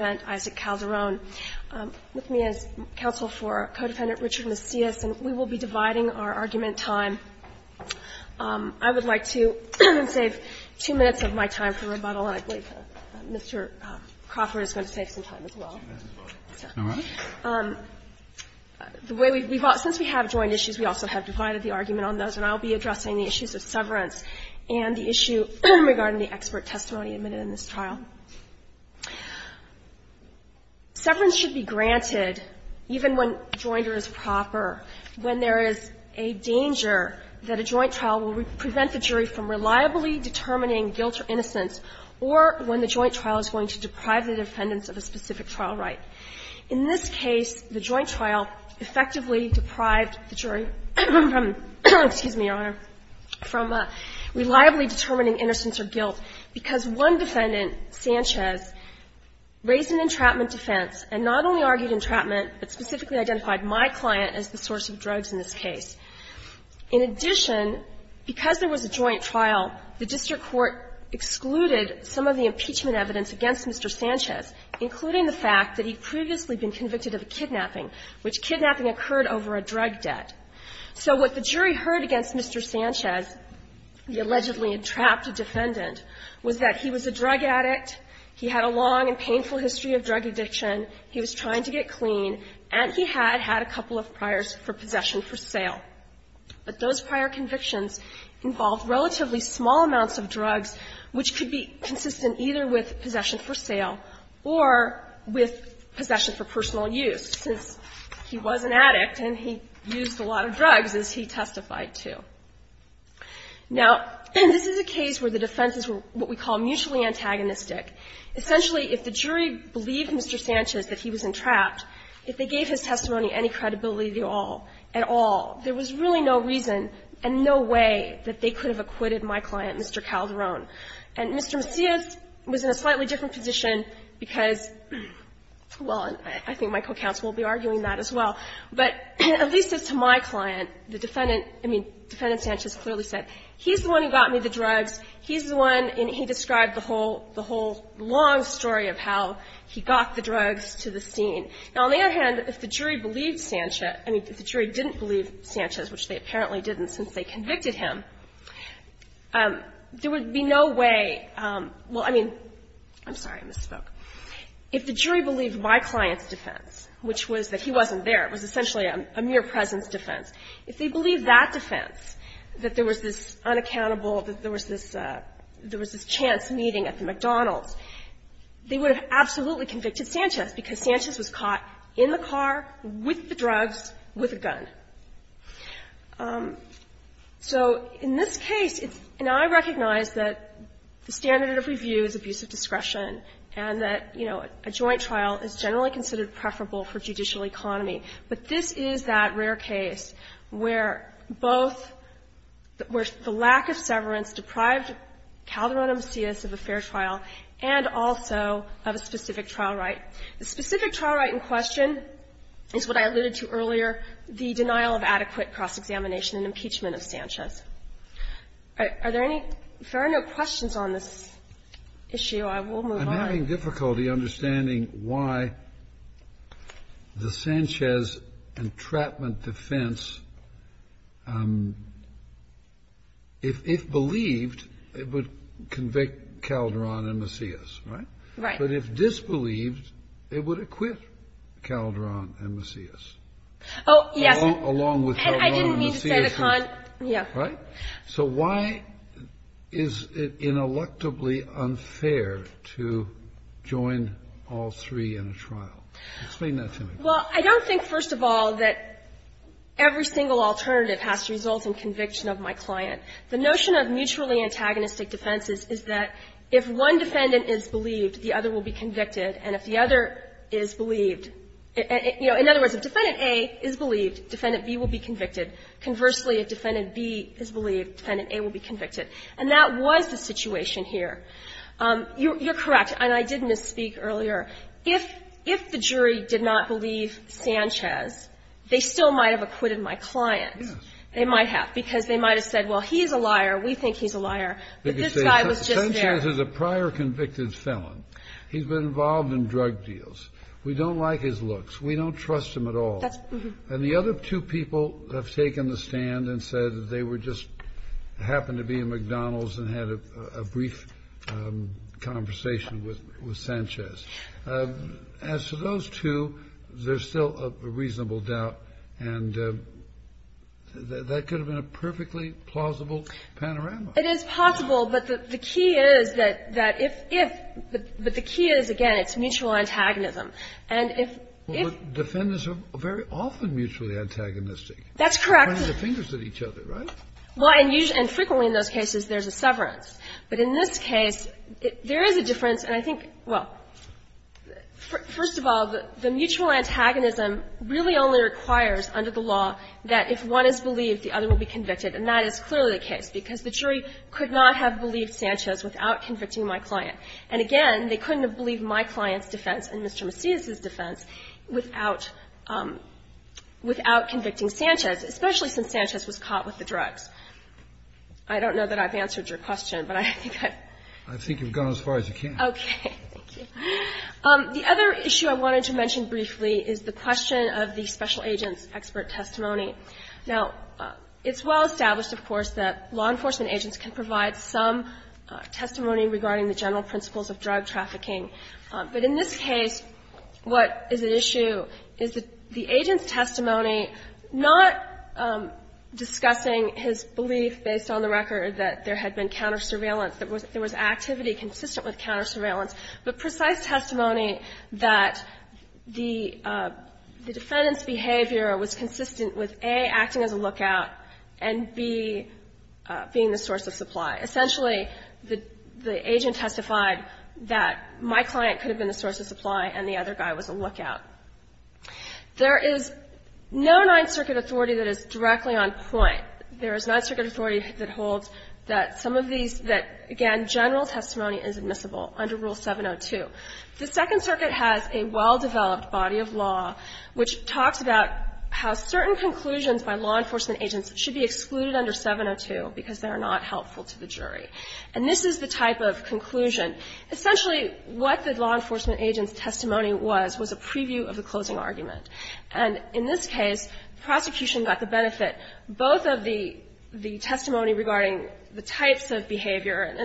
with me as counsel for co-defendant Richard Macias, and we will be dividing our argument time. I would like to save two minutes of my time for rebuttal, and I believe Mr. Crawford is going to save some time as well. Since we have joint issues, we also have divided the argument on those, and I will be addressing the issues of severance and the issue regarding the expert testimony admitted in this trial. Severance should be granted even when joinder is proper, when there is a danger that a joint trial will prevent the jury from reliably determining guilt or innocence, or when the joint trial is going to deprive the defendants of a specific trial right. In this case, the joint trial effectively deprived the jury from, excuse me, Your Honor, from reliably determining innocence or guilt because one defendant, Sanchez, raised an entrapment defense and not only argued entrapment, but specifically identified my client as the source of drugs in this case. In addition, because there was a joint trial, the district court excluded some of the impeachment evidence against Mr. Sanchez, including the fact that he'd previously been convicted of a kidnapping, which kidnapping occurred over a drug debt. So what the jury heard against Mr. Sanchez, the allegedly entrapped defendant, was that he was a drug addict, he had a long and painful history of drug addiction, he was trying to get clean, and he had had a couple of priors for possession for sale. But those prior convictions involved relatively small amounts of drugs which could be consistent either with possession for sale or with possession for personal use, since he was an addict and he used a lot of drugs, as he testified to. Now, this is a case where the defense is what we call mutually antagonistic. Essentially, if the jury believed Mr. Sanchez that he was entrapped, if they gave his testimony any credibility at all, there was really no reason and no way that they could have acquitted my client, Mr. Calderon. And Mr. Macias was in a slightly different position because, well, I think my co-counsel will be arguing that as well, but at least as to my client, the defendant, I mean, Defendant Sanchez clearly said, he's the one who got me the drugs, he's the one, and he described the whole long story of how he got the drugs to the scene. Now, on the other hand, if the jury believed Sanchez, I mean, if the jury didn't believe Sanchez, which they apparently didn't since they convicted him, there would be no way – well, I mean, I'm sorry, I misspoke. If the jury believed my client's defense, which was that he wasn't there, it was essentially a mere presence defense, if they believed that defense, that there was this unaccountable, that there was this – there was this chance meeting at the McDonald's, they would have absolutely convicted Sanchez, because Sanchez was caught in the car with the drugs, with a gun. So in this case, it's – and I recognize that the standard of review is abuse of discretion and that, you know, a joint trial is generally considered preferable for judicial economy, but this is that rare case where both – where the lack of severance deprived Calderon Macias of a fair trial and also of a specific trial right. The specific trial right in question is what I alluded to earlier, the denial of adequate cross-examination and impeachment of Sanchez. Are there any fair note questions on this issue? I will move on. I'm having difficulty understanding why the Sanchez entrapment defense, if believed, it would convict Calderon and Macias, right? But if disbelieved, it would acquit Calderon and Macias. Along with Calderon and Macias. And I didn't mean to say the con – yeah. Right? So why is it ineluctably unfair to join all three in a trial? Explain that to me. Well, I don't think, first of all, that every single alternative has to result in conviction of my client. The notion of mutually antagonistic defenses is that if one defendant is believed, the other will be convicted, and if the other is believed – you know, in other words, if Defendant A is believed, Defendant B will be convicted. Conversely, if Defendant B is believed, Defendant A will be convicted. And that was the situation here. You're correct. And I did misspeak earlier. If the jury did not believe Sanchez, they still might have acquitted my client. Yes. They might have, because they might have said, well, he's a liar, we think he's a liar, but this guy was just there. Sanchez is a prior convicted felon. He's been involved in drug deals. We don't like his looks. We don't trust him at all. And the other two people have taken the stand and said they were just – happened to be in McDonald's and had a brief conversation with Sanchez. As to those two, there's still a reasonable doubt, and that could have been a perfectly plausible panorama. It is possible, but the key is that if – but the key is, again, it's mutual antagonism. And if – But Defendants are very often mutually antagonistic. That's correct. Pointing their fingers at each other, right? Well, and frequently in those cases, there's a severance. But in this case, there is a difference, and I think – well, first of all, the mutual antagonism really only requires under the law that if one is believed, the other will be convicted. And that is clearly the case, because the jury could not have believed Sanchez without convicting my client. And again, they couldn't have believed my client's defense and Mr. Macias's defense without – without convicting Sanchez, especially since Sanchez was caught with the drugs. I don't know that I've answered your question, but I think I've – I think you've gone as far as you can. Okay. Thank you. The other issue I wanted to mention briefly is the question of the special agent's expert testimony. Now, it's well established, of course, that law enforcement agents can provide some testimony regarding the general principles of drug trafficking. But in this case, what is at issue is the agent's testimony not discussing his belief, based on the record, that there had been counter-surveillance, that there was activity consistent with counter-surveillance, but precise testimony that the defendant's behavior was consistent with, A, acting as a lookout, and, B, being the source of supply. Essentially, the agent testified that my client could have been the source of supply and the other guy was a lookout. There is no Ninth Circuit authority that is directly on point. There is Ninth Circuit authority that holds that some of these – that, again, general testimony is admissible under Rule 702. The Second Circuit has a well-developed body of law which talks about how certain conclusions by law enforcement agents should be excluded under 702 because they are not helpful to the jury. And this is the type of conclusion. Essentially, what the law enforcement agent's testimony was, was a preview of the closing argument. And in this case, prosecution got the benefit, both of the testimony regarding the types of behavior,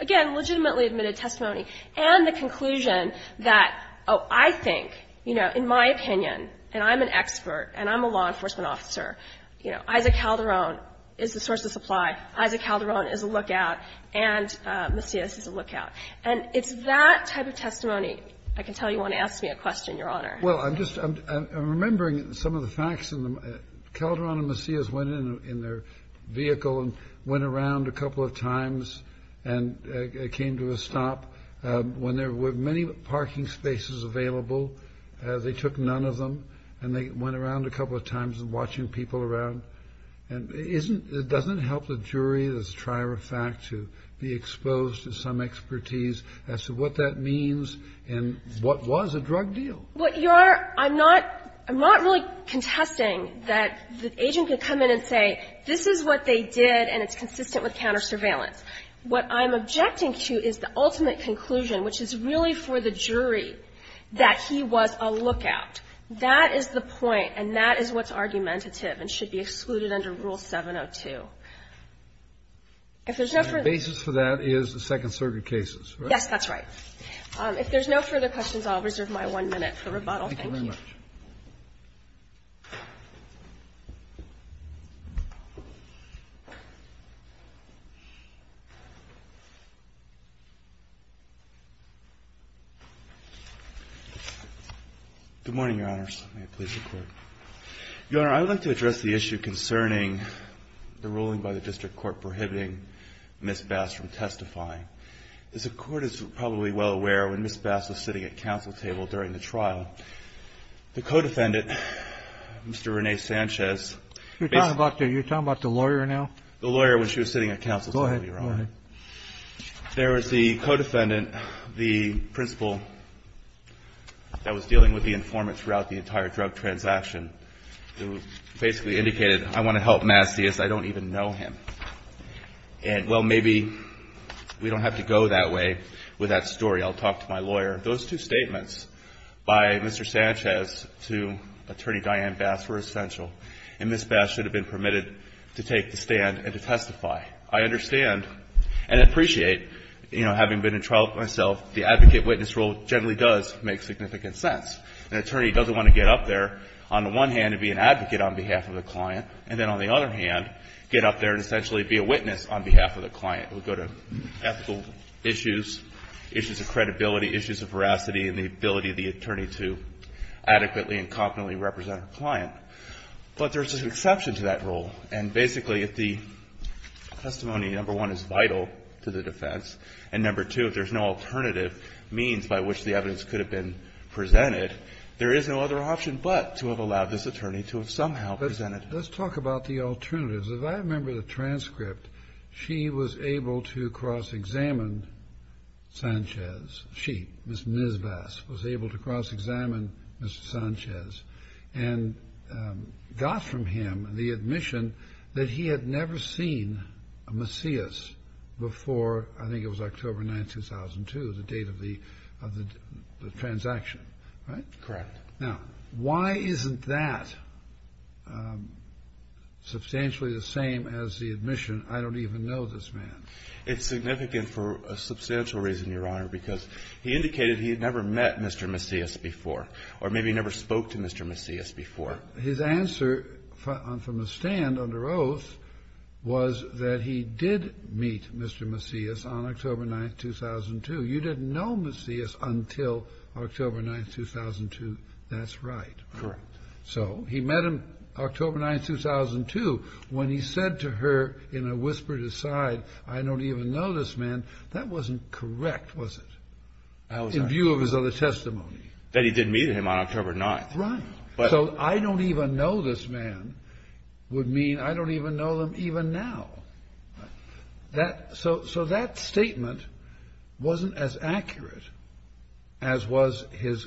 again, legitimately admitted testimony, and the conclusion that, oh, I think, you know, in my opinion, and I'm an expert, and I'm a law enforcement officer, you know, Isaac Calderon is the source of supply, Isaac Calderon is a lookout, and Macias is a lookout. And it's that type of testimony, I can tell you won't ask me a question, Your Honor. Kennedy. Well, I'm just – I'm remembering some of the facts. Calderon and Macias went in their vehicle and went around a couple of times and came to a stop. When there were many parking spaces available, they took none of them, and they went around a couple of times watching people around. And isn't – it doesn't help the jury that's a trier of fact to be exposed to some expertise as to what that means and what was a drug deal. Well, Your Honor, I'm not – I'm not really contesting that the agent could come in and say, this is what they did, and it's consistent with countersurveillance. What I'm objecting to is the ultimate conclusion, which is really for the jury, that he was a lookout. That is the point, and that is what's argumentative and should be excluded under Rule 702. If there's no further question. The basis for that is the Second Circuit cases, right? Yes, that's right. If there's no further questions, I'll reserve my one minute for rebuttal. Thank you. Thank you very much. Good morning, Your Honors. May it please the Court. Your Honor, I'd like to address the issue concerning the ruling by the District Court prohibiting Ms. Bass from testifying. As the Court is probably well aware, when Ms. Bass was sitting at counsel table during the trial, the co-defendant, Mr. Rene Sanchez – You're talking about the – you're talking about the lawyer now? The lawyer when she was sitting at counsel table, Your Honor. There was the co-defendant, the principal that was dealing with the informant throughout the entire drug transaction, who basically indicated, I want to help Matt Sias. I don't even know him. And, well, maybe we don't have to go that way with that story. I'll talk to my lawyer. Those two statements by Mr. Sanchez to Attorney Diane Bass were essential, and Ms. Bass should have been permitted to take the stand and to testify. I understand and appreciate, you know, having been in trial myself, the advocate-witness rule generally does make significant sense. An attorney doesn't want to get up there on the one hand and be an advocate on behalf of the client, and then on the other hand get up there and essentially be a witness on behalf of the client. We go to ethical issues, issues of credibility, issues of veracity, and the ability But there's an exception to that rule. And, basically, if the testimony, number one, is vital to the defense, and, number two, if there's no alternative means by which the evidence could have been presented, there is no other option but to have allowed this attorney to have somehow presented it. Let's talk about the alternatives. If I remember the transcript, she was able to cross-examine Mr. Sanchez. She, Ms. Ms. Bass, was able to cross-examine Mr. Sanchez and got from him the admission that he had never seen a Macias before, I think it was October 9, 2002, the date of the transaction, right? Correct. Now, why isn't that substantially the same as the admission, I don't even know this man? It's significant for a substantial reason, Your Honor, because he indicated he had never met Mr. Macias before or maybe never spoke to Mr. Macias before. His answer from a stand under oath was that he did meet Mr. Macias on October 9, 2002. You didn't know Macias until October 9, 2002. That's right. Correct. So he met him October 9, 2002 when he said to her in a whispered aside, I don't even know this man. That wasn't correct, was it? That was not correct. In view of his other testimony. That he did meet him on October 9. Right. But. So I don't even know this man would mean I don't even know them even now. So that statement wasn't as accurate as was his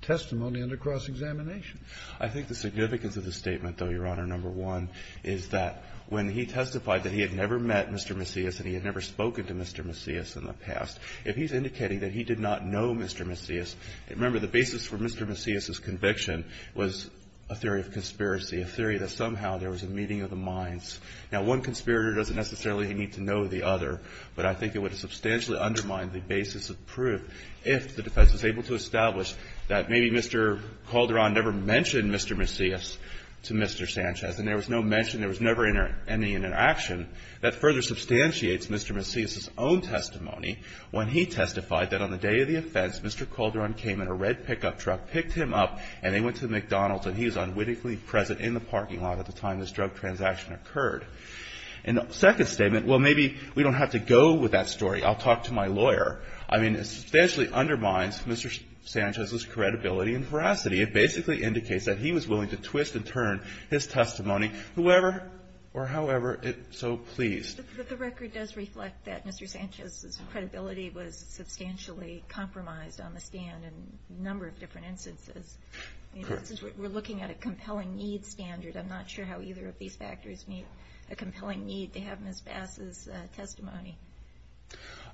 testimony under cross-examination. I think the significance of the statement, though, Your Honor, number one, is that when he testified that he had never met Mr. Macias and he had never spoken to Mr. Macias in the past, if he's indicating that he did not know Mr. Macias, remember the basis for Mr. Macias' conviction was a theory of conspiracy, a theory that somehow there was a meeting of the minds. Now, one conspirator doesn't necessarily need to know the other, but I think it would substantially undermine the basis of proof if the defense was able to establish that maybe Mr. Calderon never mentioned Mr. Macias to Mr. Sanchez, and there was no mention, there was never any interaction. That further substantiates Mr. Macias' own testimony when he testified that on the day of the offense, Mr. Calderon came in a red pickup truck, picked him up, and they went to McDonald's, and he was unwittingly present in the parking lot at the time this drug transaction occurred. In the second statement, well, maybe we don't have to go with that story. I'll talk to my lawyer. I mean, it substantially undermines Mr. Sanchez's credibility and veracity. It basically indicates that he was willing to twist and turn his testimony, whoever or however it so pleased. But the record does reflect that Mr. Sanchez's credibility was substantially compromised on the stand in a number of different instances. Correct. We're looking at a compelling needs standard. I'm not sure how either of these factors meet a compelling need to have Ms. Bass's testimony.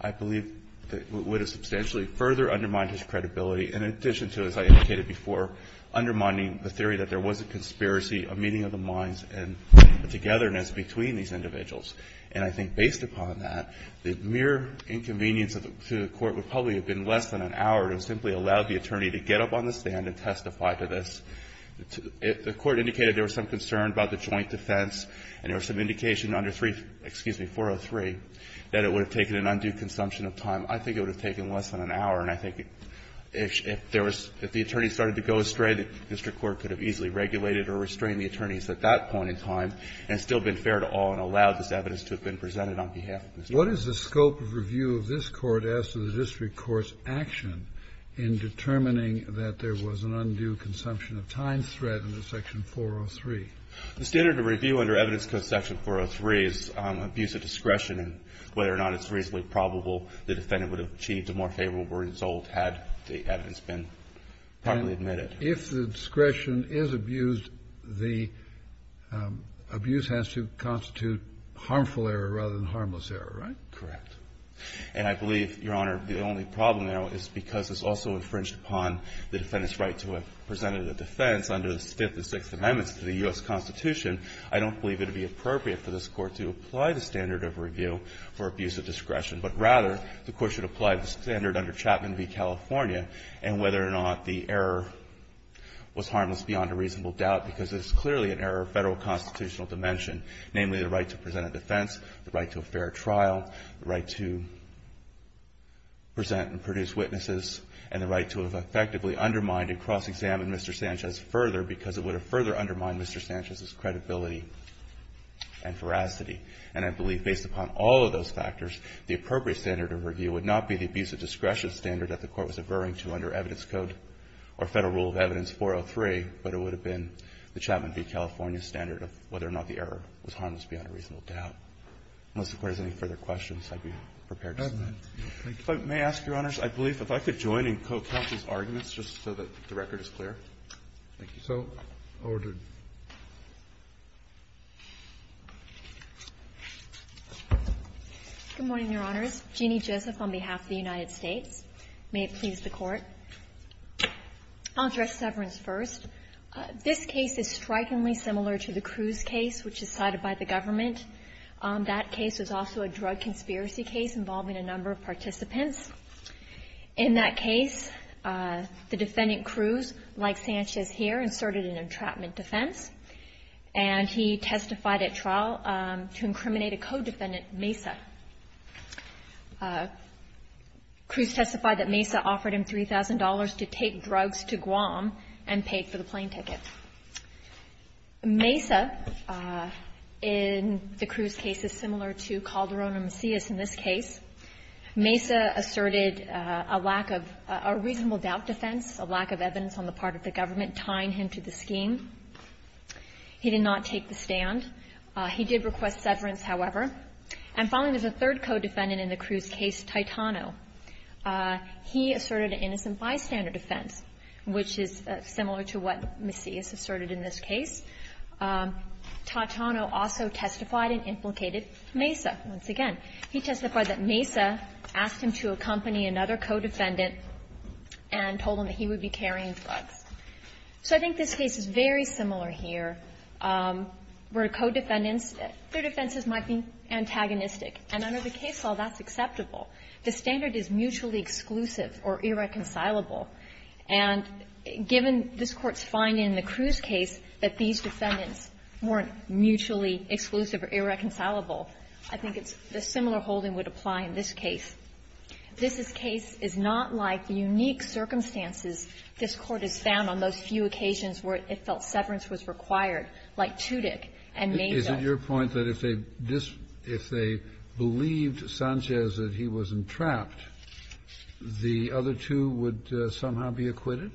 I believe that it would have substantially further undermined his credibility in addition to, as I indicated before, undermining the theory that there was a conspiracy, a meeting of the minds, and a togetherness between these individuals. And I think based upon that, the mere inconvenience to the Court would probably have been less than an hour to simply allow the attorney to get up on the stand and testify to this. If the Court indicated there was some concern about the joint defense and there was some indication under 3 --" excuse me, 403, that it would have taken an undue consumption of time, I think it would have taken less than an hour. And I think if there was the attorney started to go astray, the district court could have easily regulated or restrained the attorneys at that point in time and still been fair to all and allowed this evidence to have been presented on behalf of the district court. Kennedy. What is the scope of review of this Court as to the district court's action in determining that there was an undue consumption of time threat under Section 403? The standard of review under evidence of Section 403 is abuse of discretion and whether or not it's reasonably probable the defendant would have achieved a more favorable result had the evidence been properly admitted. If the discretion is abused, the abuse has to constitute harmful error rather than harmless error, right? Correct. And I believe, Your Honor, the only problem there is because it's also infringed upon the defendant's right to have presented a defense under the Fifth and Sixth Amendments to the U.S. Constitution, I don't believe it would be appropriate for this Court to apply the standard of review for abuse of discretion, but rather the Court should apply the standard under Chapman v. California and whether or not the error was harmless beyond a reasonable doubt because it's clearly an error of Federal constitutional dimension, namely the right to present a defense, the right to a fair trial, the right to present and produce witnesses, and the right to have effectively undermined and cross-examined Mr. Sanchez further because it would have further undermined Mr. Sanchez's credibility and veracity. And I believe based upon all of those factors, the appropriate standard of review would not be the abuse of discretion standard that the Court was averring to under Evidence Code or Federal Rule of Evidence 403, but it would have been the Chapman v. California standard of whether or not the error was harmless beyond a reasonable doubt. Unless the Court has any further questions, I'd be prepared to submit. May I ask, Your Honors, I believe if I could join and co-counsel these arguments just so that the record is clear. Thank you. So ordered. Good morning, Your Honors. Jeanne Joseph on behalf of the United States. May it please the Court. I'll address severance first. This case is strikingly similar to the Cruz case, which is cited by the government. That case was also a drug conspiracy case involving a number of participants. In that case, the defendant Cruz, like Sanchez here, inserted an entrapment defense, and he testified at trial to incriminate a co-defendant, Mesa. Cruz testified that Mesa offered him $3,000 to take drugs to Guam and paid for the plane tickets. Mesa, in the Cruz case, is similar to Calderon or Macias in this case. Mesa asserted a lack of – a reasonable doubt defense, a lack of evidence on the part of the government tying him to the scheme. He did not take the stand. He did request severance, however. And finally, there's a third co-defendant in the Cruz case, Titano. He asserted an innocent bystander defense, which is similar to what Macias asserted in this case. Titano also testified and implicated Mesa once again. He testified that Mesa asked him to accompany another co-defendant and told him that he would be carrying drugs. So I think this case is very similar here, where co-defendants, their defenses might be antagonistic. And under the case law, that's acceptable. The standard is mutually exclusive or irreconcilable. And given this Court's finding in the Cruz case that these defendants weren't mutually exclusive or irreconcilable, I think it's – a similar holding would apply in this case. This case is not like the unique circumstances this Court has found on those few occasions where it felt severance was required, like Tudyk and Mesa. Kennedy, your point that if they believed Sanchez that he was entrapped, the other two would somehow be acquitted?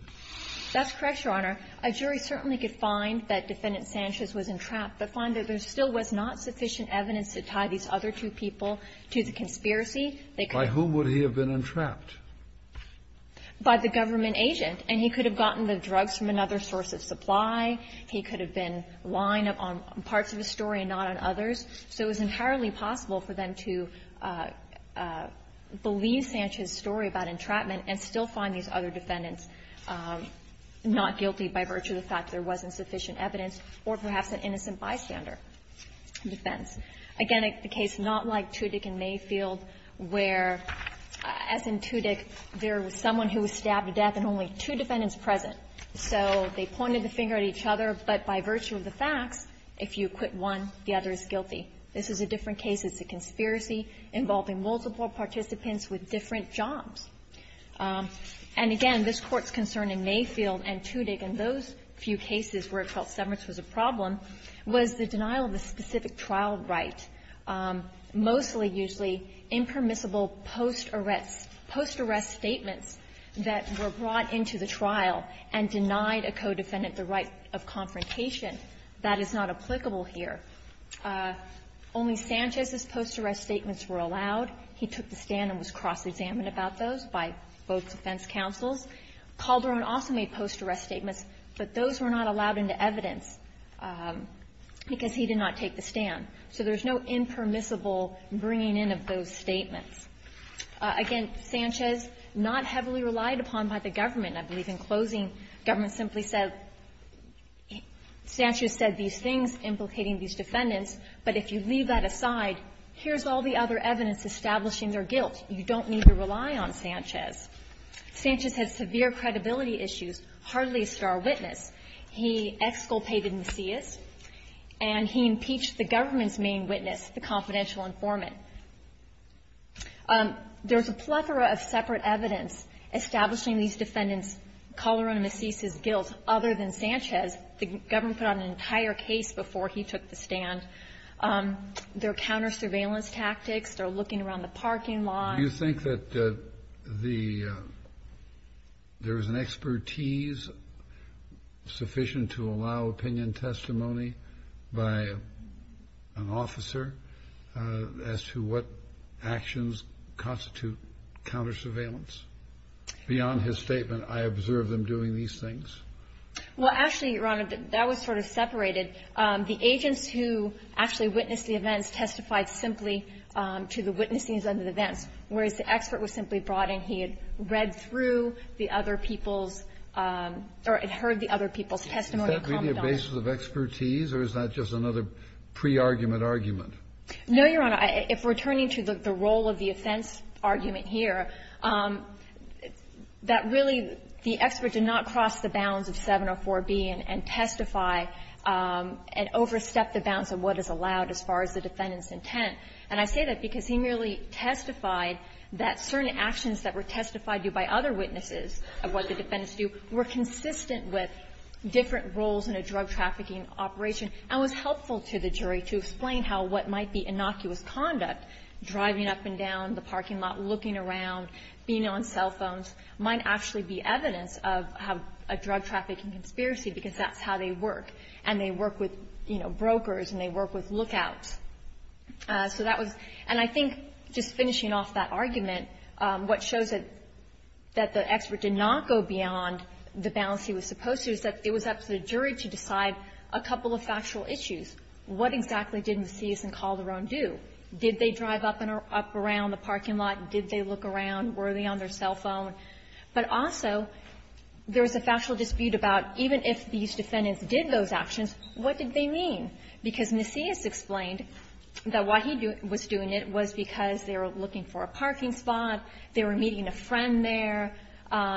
That's correct, Your Honor. A jury certainly could find that Defendant Sanchez was entrapped, but find that there still was not sufficient evidence to tie these other two people to the conspiracy. By whom would he have been entrapped? By the government agent. And he could have gotten the drugs from another source of supply. He could have been lying on parts of the story and not on others. So it was entirely possible for them to believe Sanchez's story about entrapment and still find these other defendants not guilty by virtue of the fact there wasn't sufficient evidence or perhaps an innocent bystander defense. Again, the case is not like Tudyk and Mayfield, where, as in Tudyk, there was someone who was stabbed to death and only two defendants present. So they pointed the finger at each other, but by virtue of the facts, if you acquit one, the other is guilty. This is a different case. It's a conspiracy involving multiple participants with different jobs. And again, this Court's concern in Mayfield and Tudyk and those few cases where it felt Severts was a problem was the denial of a specific trial right, mostly, usually, impermissible post-arrest statements that were brought into the trial. And denied a co-defendant the right of confrontation, that is not applicable here. Only Sanchez's post-arrest statements were allowed. He took the stand and was cross-examined about those by both defense counsels. Calderon also made post-arrest statements, but those were not allowed into evidence because he did not take the stand. So there's no impermissible bringing in of those statements. Again, Sanchez, not heavily relied upon by the government, I believe, in closing government simply said, Sanchez said these things implicating these defendants, but if you leave that aside, here's all the other evidence establishing their guilt. You don't need to rely on Sanchez. Sanchez had severe credibility issues, hardly a star witness. He exculpated Macias, and he impeached the government's main witness, the confidential informant. There's a plethora of separate evidence establishing these defendants, Calderon and Macias' guilt, other than Sanchez. The government put out an entire case before he took the stand. There are counter-surveillance tactics, they're looking around the parking lot. Do you think that the, there was an expertise sufficient to allow opinion and testimony by an officer as to what actions constitute counter-surveillance? Beyond his statement, I observed them doing these things. Well, actually, Your Honor, that was sort of separated. The agents who actually witnessed the events testified simply to the witnesses of the events, whereas the expert was simply brought in. He had read through the other people's, or had heard the other people's testimony and comment on it. Is that really a basis of expertise, or is that just another pre-argument argument? No, Your Honor. If we're turning to the role of the offense argument here, that really the expert did not cross the bounds of 704B and testify and overstep the bounds of what is allowed as far as the defendant's intent. And I say that because he merely testified that certain actions that were testified to by other witnesses of what the defendants do were consistent with different roles in a drug-trafficking operation and was helpful to the jury to explain how what might be innocuous conduct, driving up and down the parking lot, looking around, being on cell phones, might actually be evidence of a drug-trafficking conspiracy, because that's how they work, and they work with, you know, brokers and they work with lookouts. So that was – and I think just finishing off that argument, what shows that the expert did not go beyond the bounds he was supposed to is that it was up to the jury to decide a couple of factual issues. What exactly did Macias and Calderon do? Did they drive up and around the parking lot? Did they look around? Were they on their cell phone? But also, there was a factual dispute about even if these defendants did those actions, what did they mean? Because Macias explained that why he was doing it was because they were looking for a parking spot, they were meeting a friend there,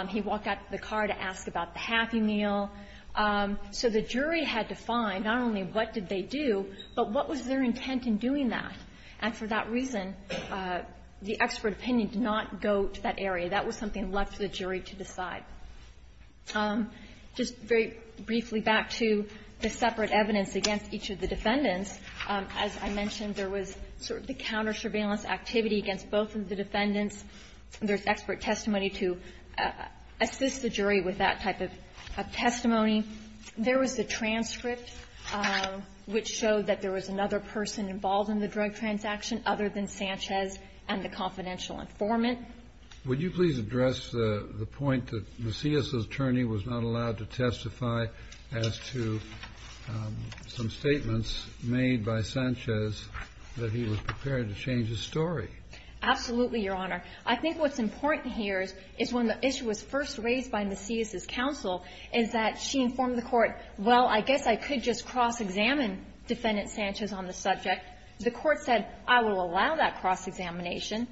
he walked out of the car to ask about the Happy Meal, so the jury had to find not only what did they do, but what was their intent in doing that? And for that reason, the expert opinion did not go to that area. That was something left to the jury to decide. Just very briefly back to the separate evidence against each of the defendants, as I mentioned, there was sort of the counter-surveillance activity against both of the defendants. There's expert testimony to assist the jury with that type of testimony. There was a transcript which showed that there was another person involved in the drug transaction other than Sanchez and the confidential informant. Would you please address the point that Macias' attorney was not allowed to testify as to some statements made by Sanchez that he was prepared to change his story? Absolutely, Your Honor. I think what's important here is when the issue was first raised by Macias' counsel is that she informed the court, well, I guess I could just cross-examine Defendant Sanchez on the subject. The court said, I will allow that cross-examination.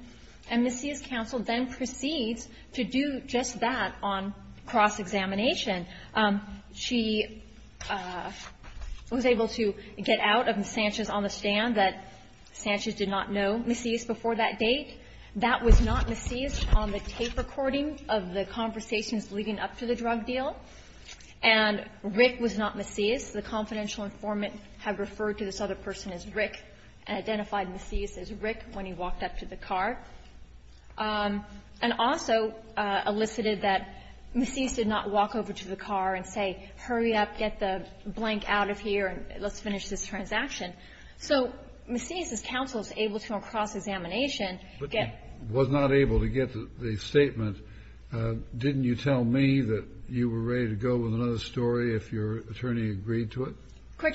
And Macias' counsel then proceeds to do just that on cross-examination. She was able to get out of Sanchez on the stand that Sanchez did not know Macias before that date. That was not Macias on the tape recording of the conversations leading up to the drug deal. And Rick was not Macias. The confidential informant had referred to this other person as Rick and identified Macias as Rick when he walked up to the car. And also elicited that Macias did not walk over to the car and say, hurry up, get the blank out of here, and let's finish this transaction. So Macias' counsel is able to, on cross-examination, get the statement. Didn't you tell me that you were ready to go with another story if your attorney agreed to it?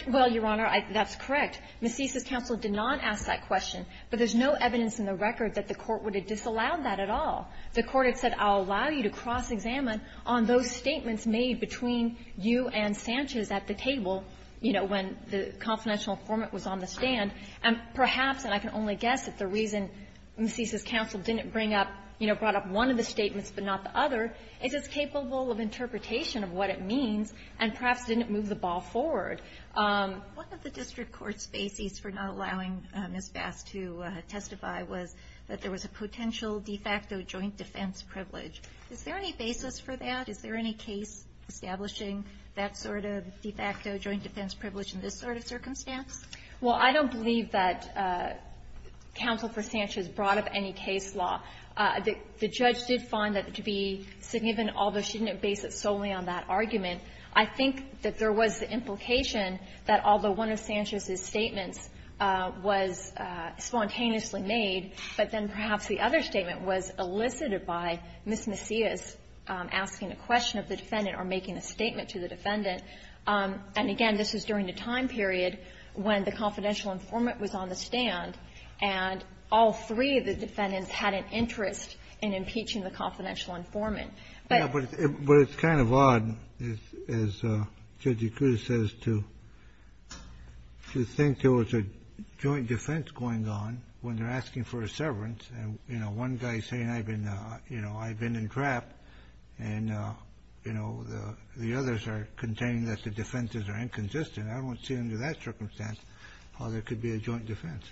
Well, Your Honor, that's correct. Macias' counsel did not ask that question, but there's no evidence in the record that the Court would have disallowed that at all. The Court had said, I'll allow you to cross-examine on those statements made between you and Sanchez at the table, you know, when the confidential informant was on the stand. And perhaps, and I can only guess if the reason Macias' counsel didn't bring up, you know, brought up one of the statements but not the other, is it's capable of interpretation of what it means and perhaps didn't move the ball forward. One of the district court's bases for not allowing Ms. Bass to testify was that there was a potential de facto joint defense privilege. Is there any basis for that? Is there any case establishing that sort of de facto joint defense privilege in this sort of circumstance? Well, I don't believe that Counsel for Sanchez brought up any case law. The judge did find that to be significant, although she didn't base it solely on that that although one of Sanchez's statements was spontaneously made, but then perhaps the other statement was elicited by Ms. Macias asking a question of the defendant or making a statement to the defendant. And again, this was during a time period when the confidential informant was on the stand, and all three of the defendants had an interest in impeaching the confidential informant. But it's kind of odd, as Judge Acuda says, to think there was a joint defense going on when they're asking for a severance, and, you know, one guy's saying I've been, you know, I've been entrapped, and, you know, the others are containing that the defenses are inconsistent. I don't see under that circumstance how there could be a joint defense.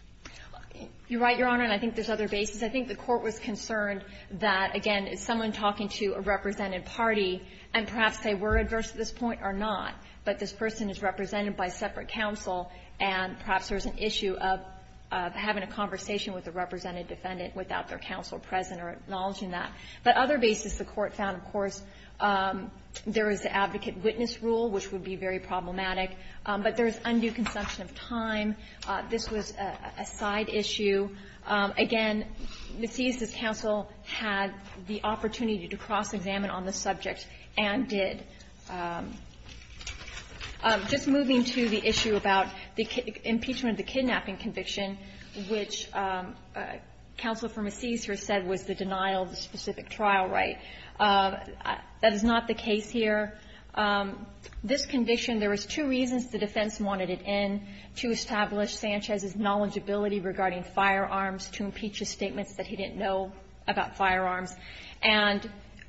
You're right, Your Honor, and I think there's other bases. I think the Court was concerned that, again, is someone talking to a represented party, and perhaps they were adverse at this point or not, but this person is represented by separate counsel, and perhaps there's an issue of having a conversation with the represented defendant without their counsel present or acknowledging But other bases the Court found, of course, there is the advocate-witness rule, which would be very problematic, but there's undue consumption of time. This was a side issue. Again, Macias' counsel had the opportunity to cross-examine on the subject and did. Just moving to the issue about the impeachment of the kidnapping conviction, which counsel for Macias here said was the denial of the specific trial right. That is not the case here. This conviction, there was two reasons the defense wanted it in to establish Sanchez's knowledgeability regarding firearms, to impeach his statements that he didn't know about firearms, and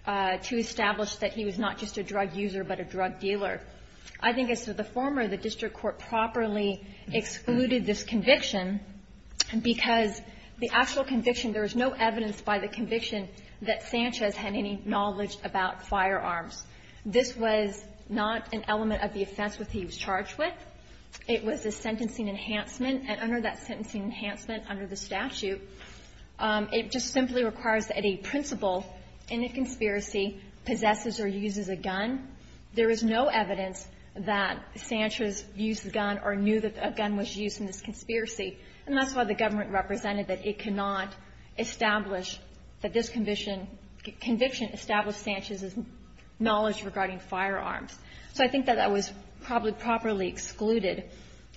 to establish that he was not just a drug user but a drug dealer. I think as to the former, the district court properly excluded this conviction because the actual conviction, there was no evidence by the conviction that Sanchez had any knowledge about firearms. This was not an element of the offense which he was charged with. It was a sentencing enhancement, and under that sentencing enhancement, under the statute, it just simply requires that a principal in a conspiracy possesses or uses a gun. There is no evidence that Sanchez used a gun or knew that a gun was used in this conspiracy, and that's why the government represented that it cannot establish that this conviction established Sanchez's knowledge regarding firearms. So I think that that was probably properly excluded.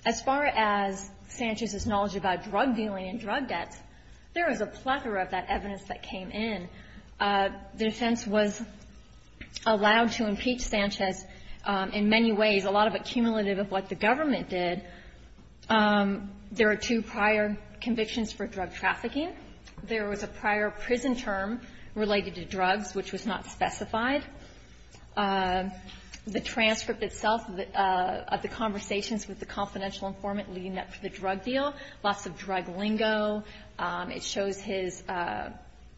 As far as Sanchez's knowledge about drug dealing and drug debts, there is a plethora of that evidence that came in. The defense was allowed to impeach Sanchez in many ways, a lot of accumulative of what the government did. There are two prior convictions for drug trafficking. There was a prior prison term related to drugs which was not specified. The transcript itself of the conversations with the confidential informant leading up to the drug deal, lots of drug lingo. It shows his ----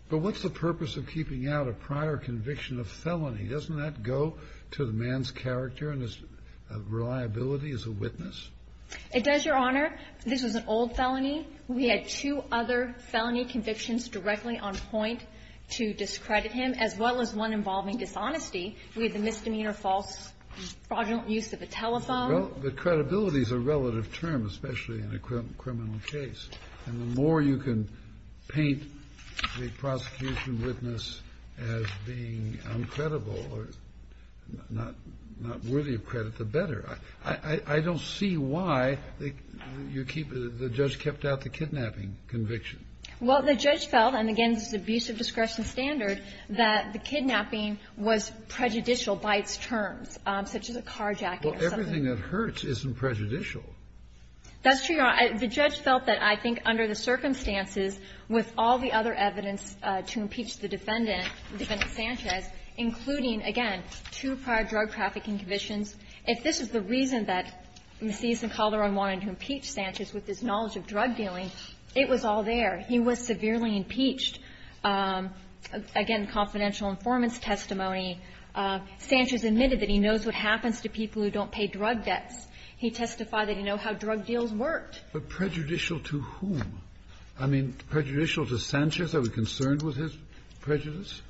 But what's the purpose of keeping out a prior conviction of felony? Doesn't that go to the man's character and his reliability as a witness? It does, Your Honor. This was an old felony. We had two other felony convictions directly on point to discredit him, as well as one involving dishonesty with a misdemeanor false fraudulent use of a telephone. But credibility is a relative term, especially in a criminal case. And the more you can paint the prosecution witness as being uncredible or not worthy of credit, the better. I don't see why you keep the judge kept out the kidnapping conviction. Well, the judge felt, and again, this is abuse of discretion standard, that the kidnapping was prejudicial by its terms, such as a carjacking or something. Well, everything that hurts isn't prejudicial. That's true, Your Honor. The judge felt that I think under the circumstances with all the other evidence to impeach the defendant, Defendant Sanchez, including, again, two prior drug trafficking convictions, if this is the reason that Macias and Calderon wanted to impeach Sanchez with his knowledge of drug dealing, it was all there. He was severely impeached. Again, confidential informants testimony. Sanchez admitted that he knows what happens to people who don't pay drug debts. He testified that he knew how drug deals worked. But prejudicial to whom? I mean, prejudicial to Sanchez? Are we concerned with his prejudice?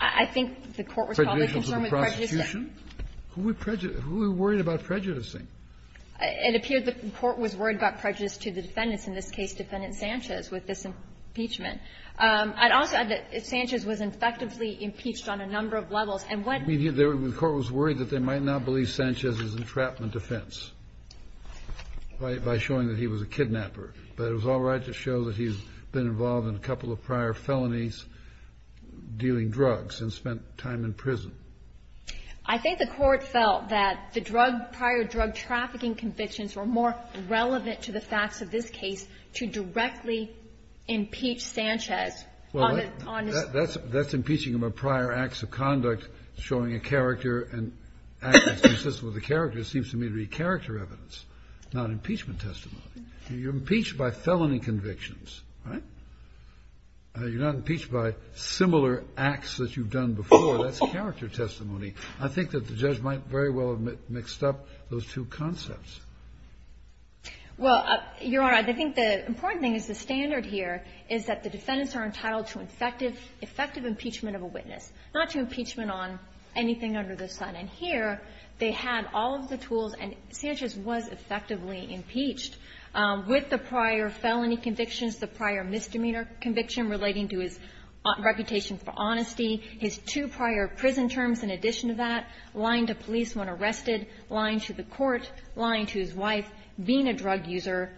I think the Court was probably concerned with prejudice. Who were worried about prejudicing? It appeared the Court was worried about prejudice to the defendants, in this case Defendant Sanchez, with this impeachment. I'd also add that Sanchez was effectively impeached on a number of levels. And when he did that, the Court was worried that they might not believe Sanchez's entrapment defense by showing that he was a kidnapper. But it was all right to show that he's been involved in a couple of prior felonies dealing drugs and spent time in prison. I think the Court felt that the drug, prior drug trafficking convictions were more relevant to the facts of this case to directly impeach Sanchez on his own. Well, that's impeaching him of prior acts of conduct, showing a character and acts consistent with the character seems to me to be character evidence, not impeachment testimony. You're impeached by felony convictions, right? You're not impeached by similar acts that you've done before. That's character testimony. I think that the judge might very well have mixed up those two concepts. Well, Your Honor, I think the important thing is the standard here is that the defendants are entitled to effective impeachment of a witness, not to impeachment on anything under the sun. And here, they had all of the tools, and Sanchez was effectively impeached with the prior felony convictions, the prior misdemeanor conviction relating to his reputation for honesty, his two prior prison terms in addition to that, lying to police when arrested, lying to the court, lying to his wife, being a drug user,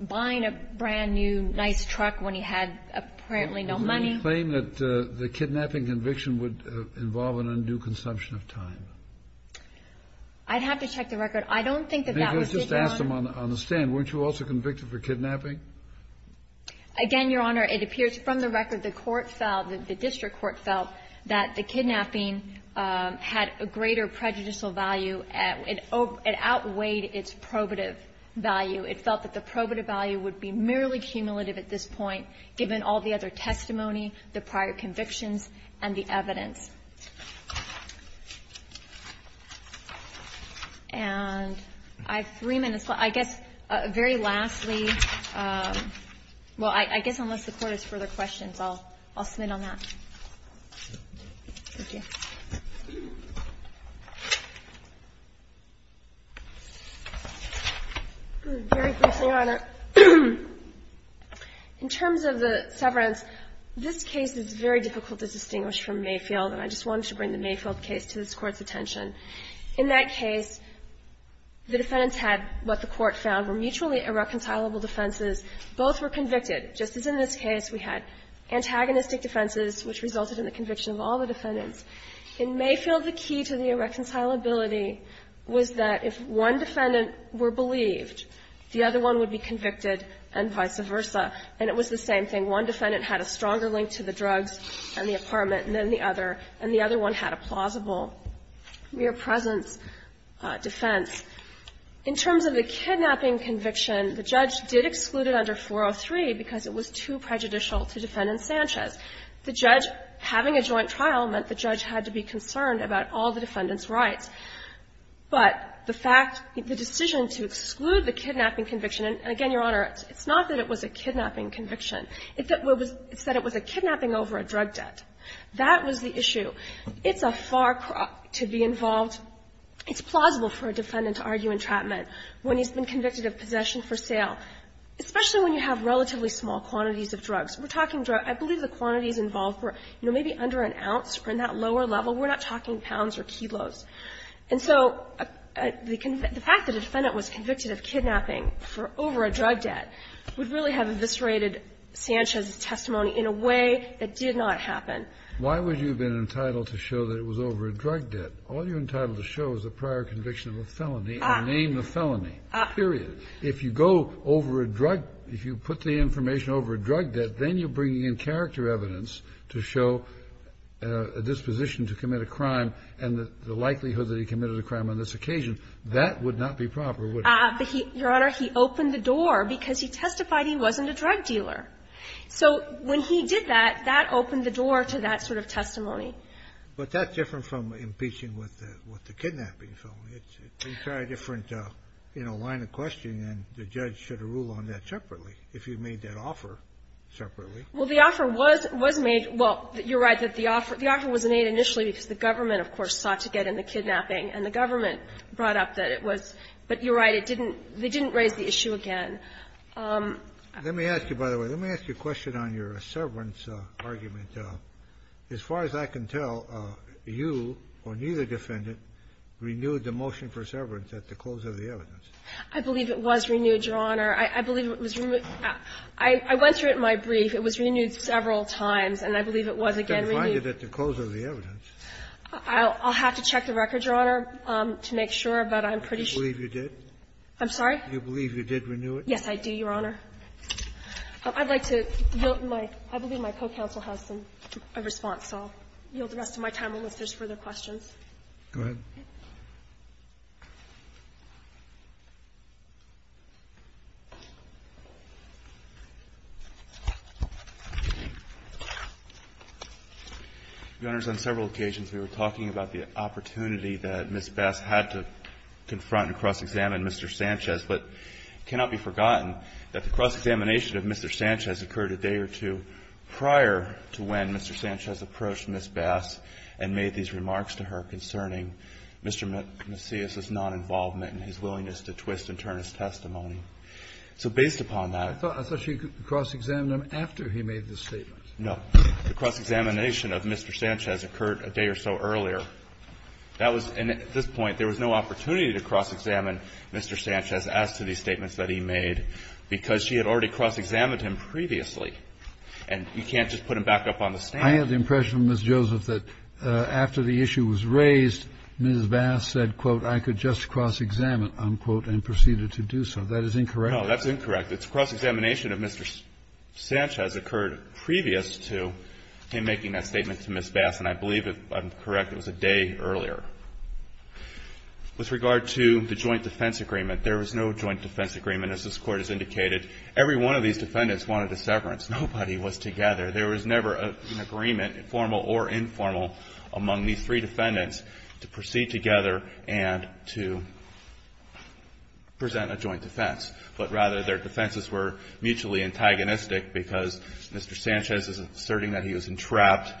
buying a brand-new nice truck when he had apparently no money. Do you claim that the kidnapping conviction would involve an undue consumption of time? I'd have to check the record. I don't think that that was taken on the stand. Weren't you also convicted for kidnapping? Again, Your Honor, it appears from the record the court felt, the district court felt, that the kidnapping had a greater prejudicial value. It outweighed its probative value. It felt that the probative value would be merely cumulative at this point, given all the other testimony, the prior convictions, and the evidence. And I have three minutes left. I guess, very lastly, well, I guess unless the court has further questions, I'll submit on that. Thank you. Very briefly, Your Honor. In terms of the severance, this case is very difficult to distinguish from Mayfield, and I just wanted to bring the Mayfield case to this Court's attention. In that case, the defendants had what the Court found were mutually irreconcilable defenses. Both were convicted. Just as in this case, we had antagonistic defenses, which resulted in the conviction of all the defendants. In Mayfield, the key to the irreconcilability was that if one defendant were believed, the other one would be convicted, and vice versa, and it was the same thing. One defendant had a stronger link to the drugs and the apartment than the other, and the other one had a plausible mere presence defense. In terms of the kidnapping conviction, the judge did exclude it under 403 because it was too prejudicial to Defendant Sanchez. The judge having a joint trial meant the judge had to be concerned about all the defendant's rights. But the fact the decision to exclude the kidnapping conviction, and again, Your Honor, it's not that it was a kidnapping conviction. It's that it was a kidnapping over a drug debt. That was the issue. It's a far crop to be involved. It's plausible for a defendant to argue entrapment when he's been convicted of possession for sale, especially when you have relatively small quantities of drugs. We're talking drugs, I believe the quantities involved were, you know, maybe under an ounce or in that lower level. We're not talking pounds or kilos. And so the fact that a defendant was convicted of kidnapping for over a drug debt would really have eviscerated Sanchez's testimony in a way that did not happen. Kennedy. Why would you have been entitled to show that it was over a drug debt? All you're entitled to show is a prior conviction of a felony and name the felony, period. If you go over a drug debt, if you put the information over a drug debt, then you're bringing in character evidence to show a disposition to commit a crime and the likelihood that he committed a crime on this occasion. That would not be proper, would it? Your Honor, he opened the door because he testified he wasn't a drug dealer. So when he did that, that opened the door to that sort of testimony. But that's different from impeaching with the kidnapping. It's an entirely different, you know, line of questioning, and the judge should rule on that separately, if you made that offer separately. Well, the offer was made. Well, you're right that the offer was made initially because the government, of course, sought to get in the kidnapping, and the government brought up that it was. But you're right, it didn't they didn't raise the issue again. Let me ask you, by the way, let me ask you a question on your severance argument. As far as I can tell, you or neither defendant renewed the motion for severance at the close of the evidence. I believe it was renewed, Your Honor. I believe it was renewed. I went through it in my brief. It was renewed several times, and I believe it was again renewed. I can find it at the close of the evidence. I'll have to check the record, Your Honor, to make sure, but I'm pretty sure. Do you believe you did? I'm sorry? Do you believe you did renew it? Yes, I do, Your Honor. I'd like to yield my co-counsel has a response, so I'll yield the rest of my time unless there's further questions. Go ahead. Your Honor, on several occasions we were talking about the opportunity that Ms. Bass had to confront and cross-examine Mr. Sanchez, but it cannot be forgotten that the cross-examination of Mr. Sanchez occurred a day or two prior to when Mr. Sanchez approached Ms. Bass and made these remarks to her concerning Mr. Macias' non-involvement in his willingness to twist and turn his testimony. So based upon that ---- I thought she cross-examined him after he made this statement. No. The cross-examination of Mr. Sanchez occurred a day or so earlier. That was at this point there was no opportunity to cross-examine Mr. Sanchez as to these statements that he made, because she had already cross-examined him previously. And you can't just put him back up on the stand. I have the impression, Ms. Joseph, that after the issue was raised, Ms. Bass said, quote, I could just cross-examine, unquote, and proceeded to do so. That is incorrect. No, that's incorrect. The cross-examination of Mr. Sanchez occurred previous to him making that statement to Ms. Bass. And I believe, if I'm correct, it was a day earlier. With regard to the joint defense agreement, there was no joint defense agreement. As this Court has indicated, every one of these defendants wanted a severance. Nobody was together. There was never an agreement, formal or informal, among these three defendants to proceed together and to present a joint defense. But rather, their defenses were mutually antagonistic because Mr. Sanchez is asserting that he was entrapped.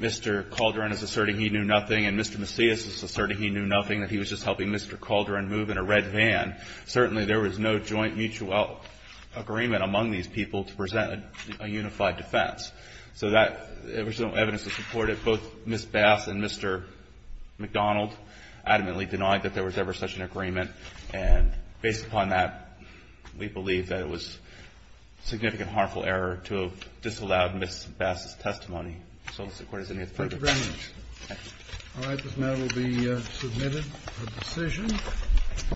Mr. Calderon is asserting he knew nothing. And Mr. Macias is asserting he knew nothing, that he was just helping Mr. Calderon move in a red van. Certainly, there was no joint mutual agreement among these people to present a unified defense. So that was no evidence to support it. Both Ms. Bass and Mr. McDonald adamantly denied that there was ever such an agreement. And based upon that, we believe that it was significant harmful error to have disallowed Ms. Bass's testimony. So the Court is in favor of it. Thank you very much. All right. This matter will be submitted for decision.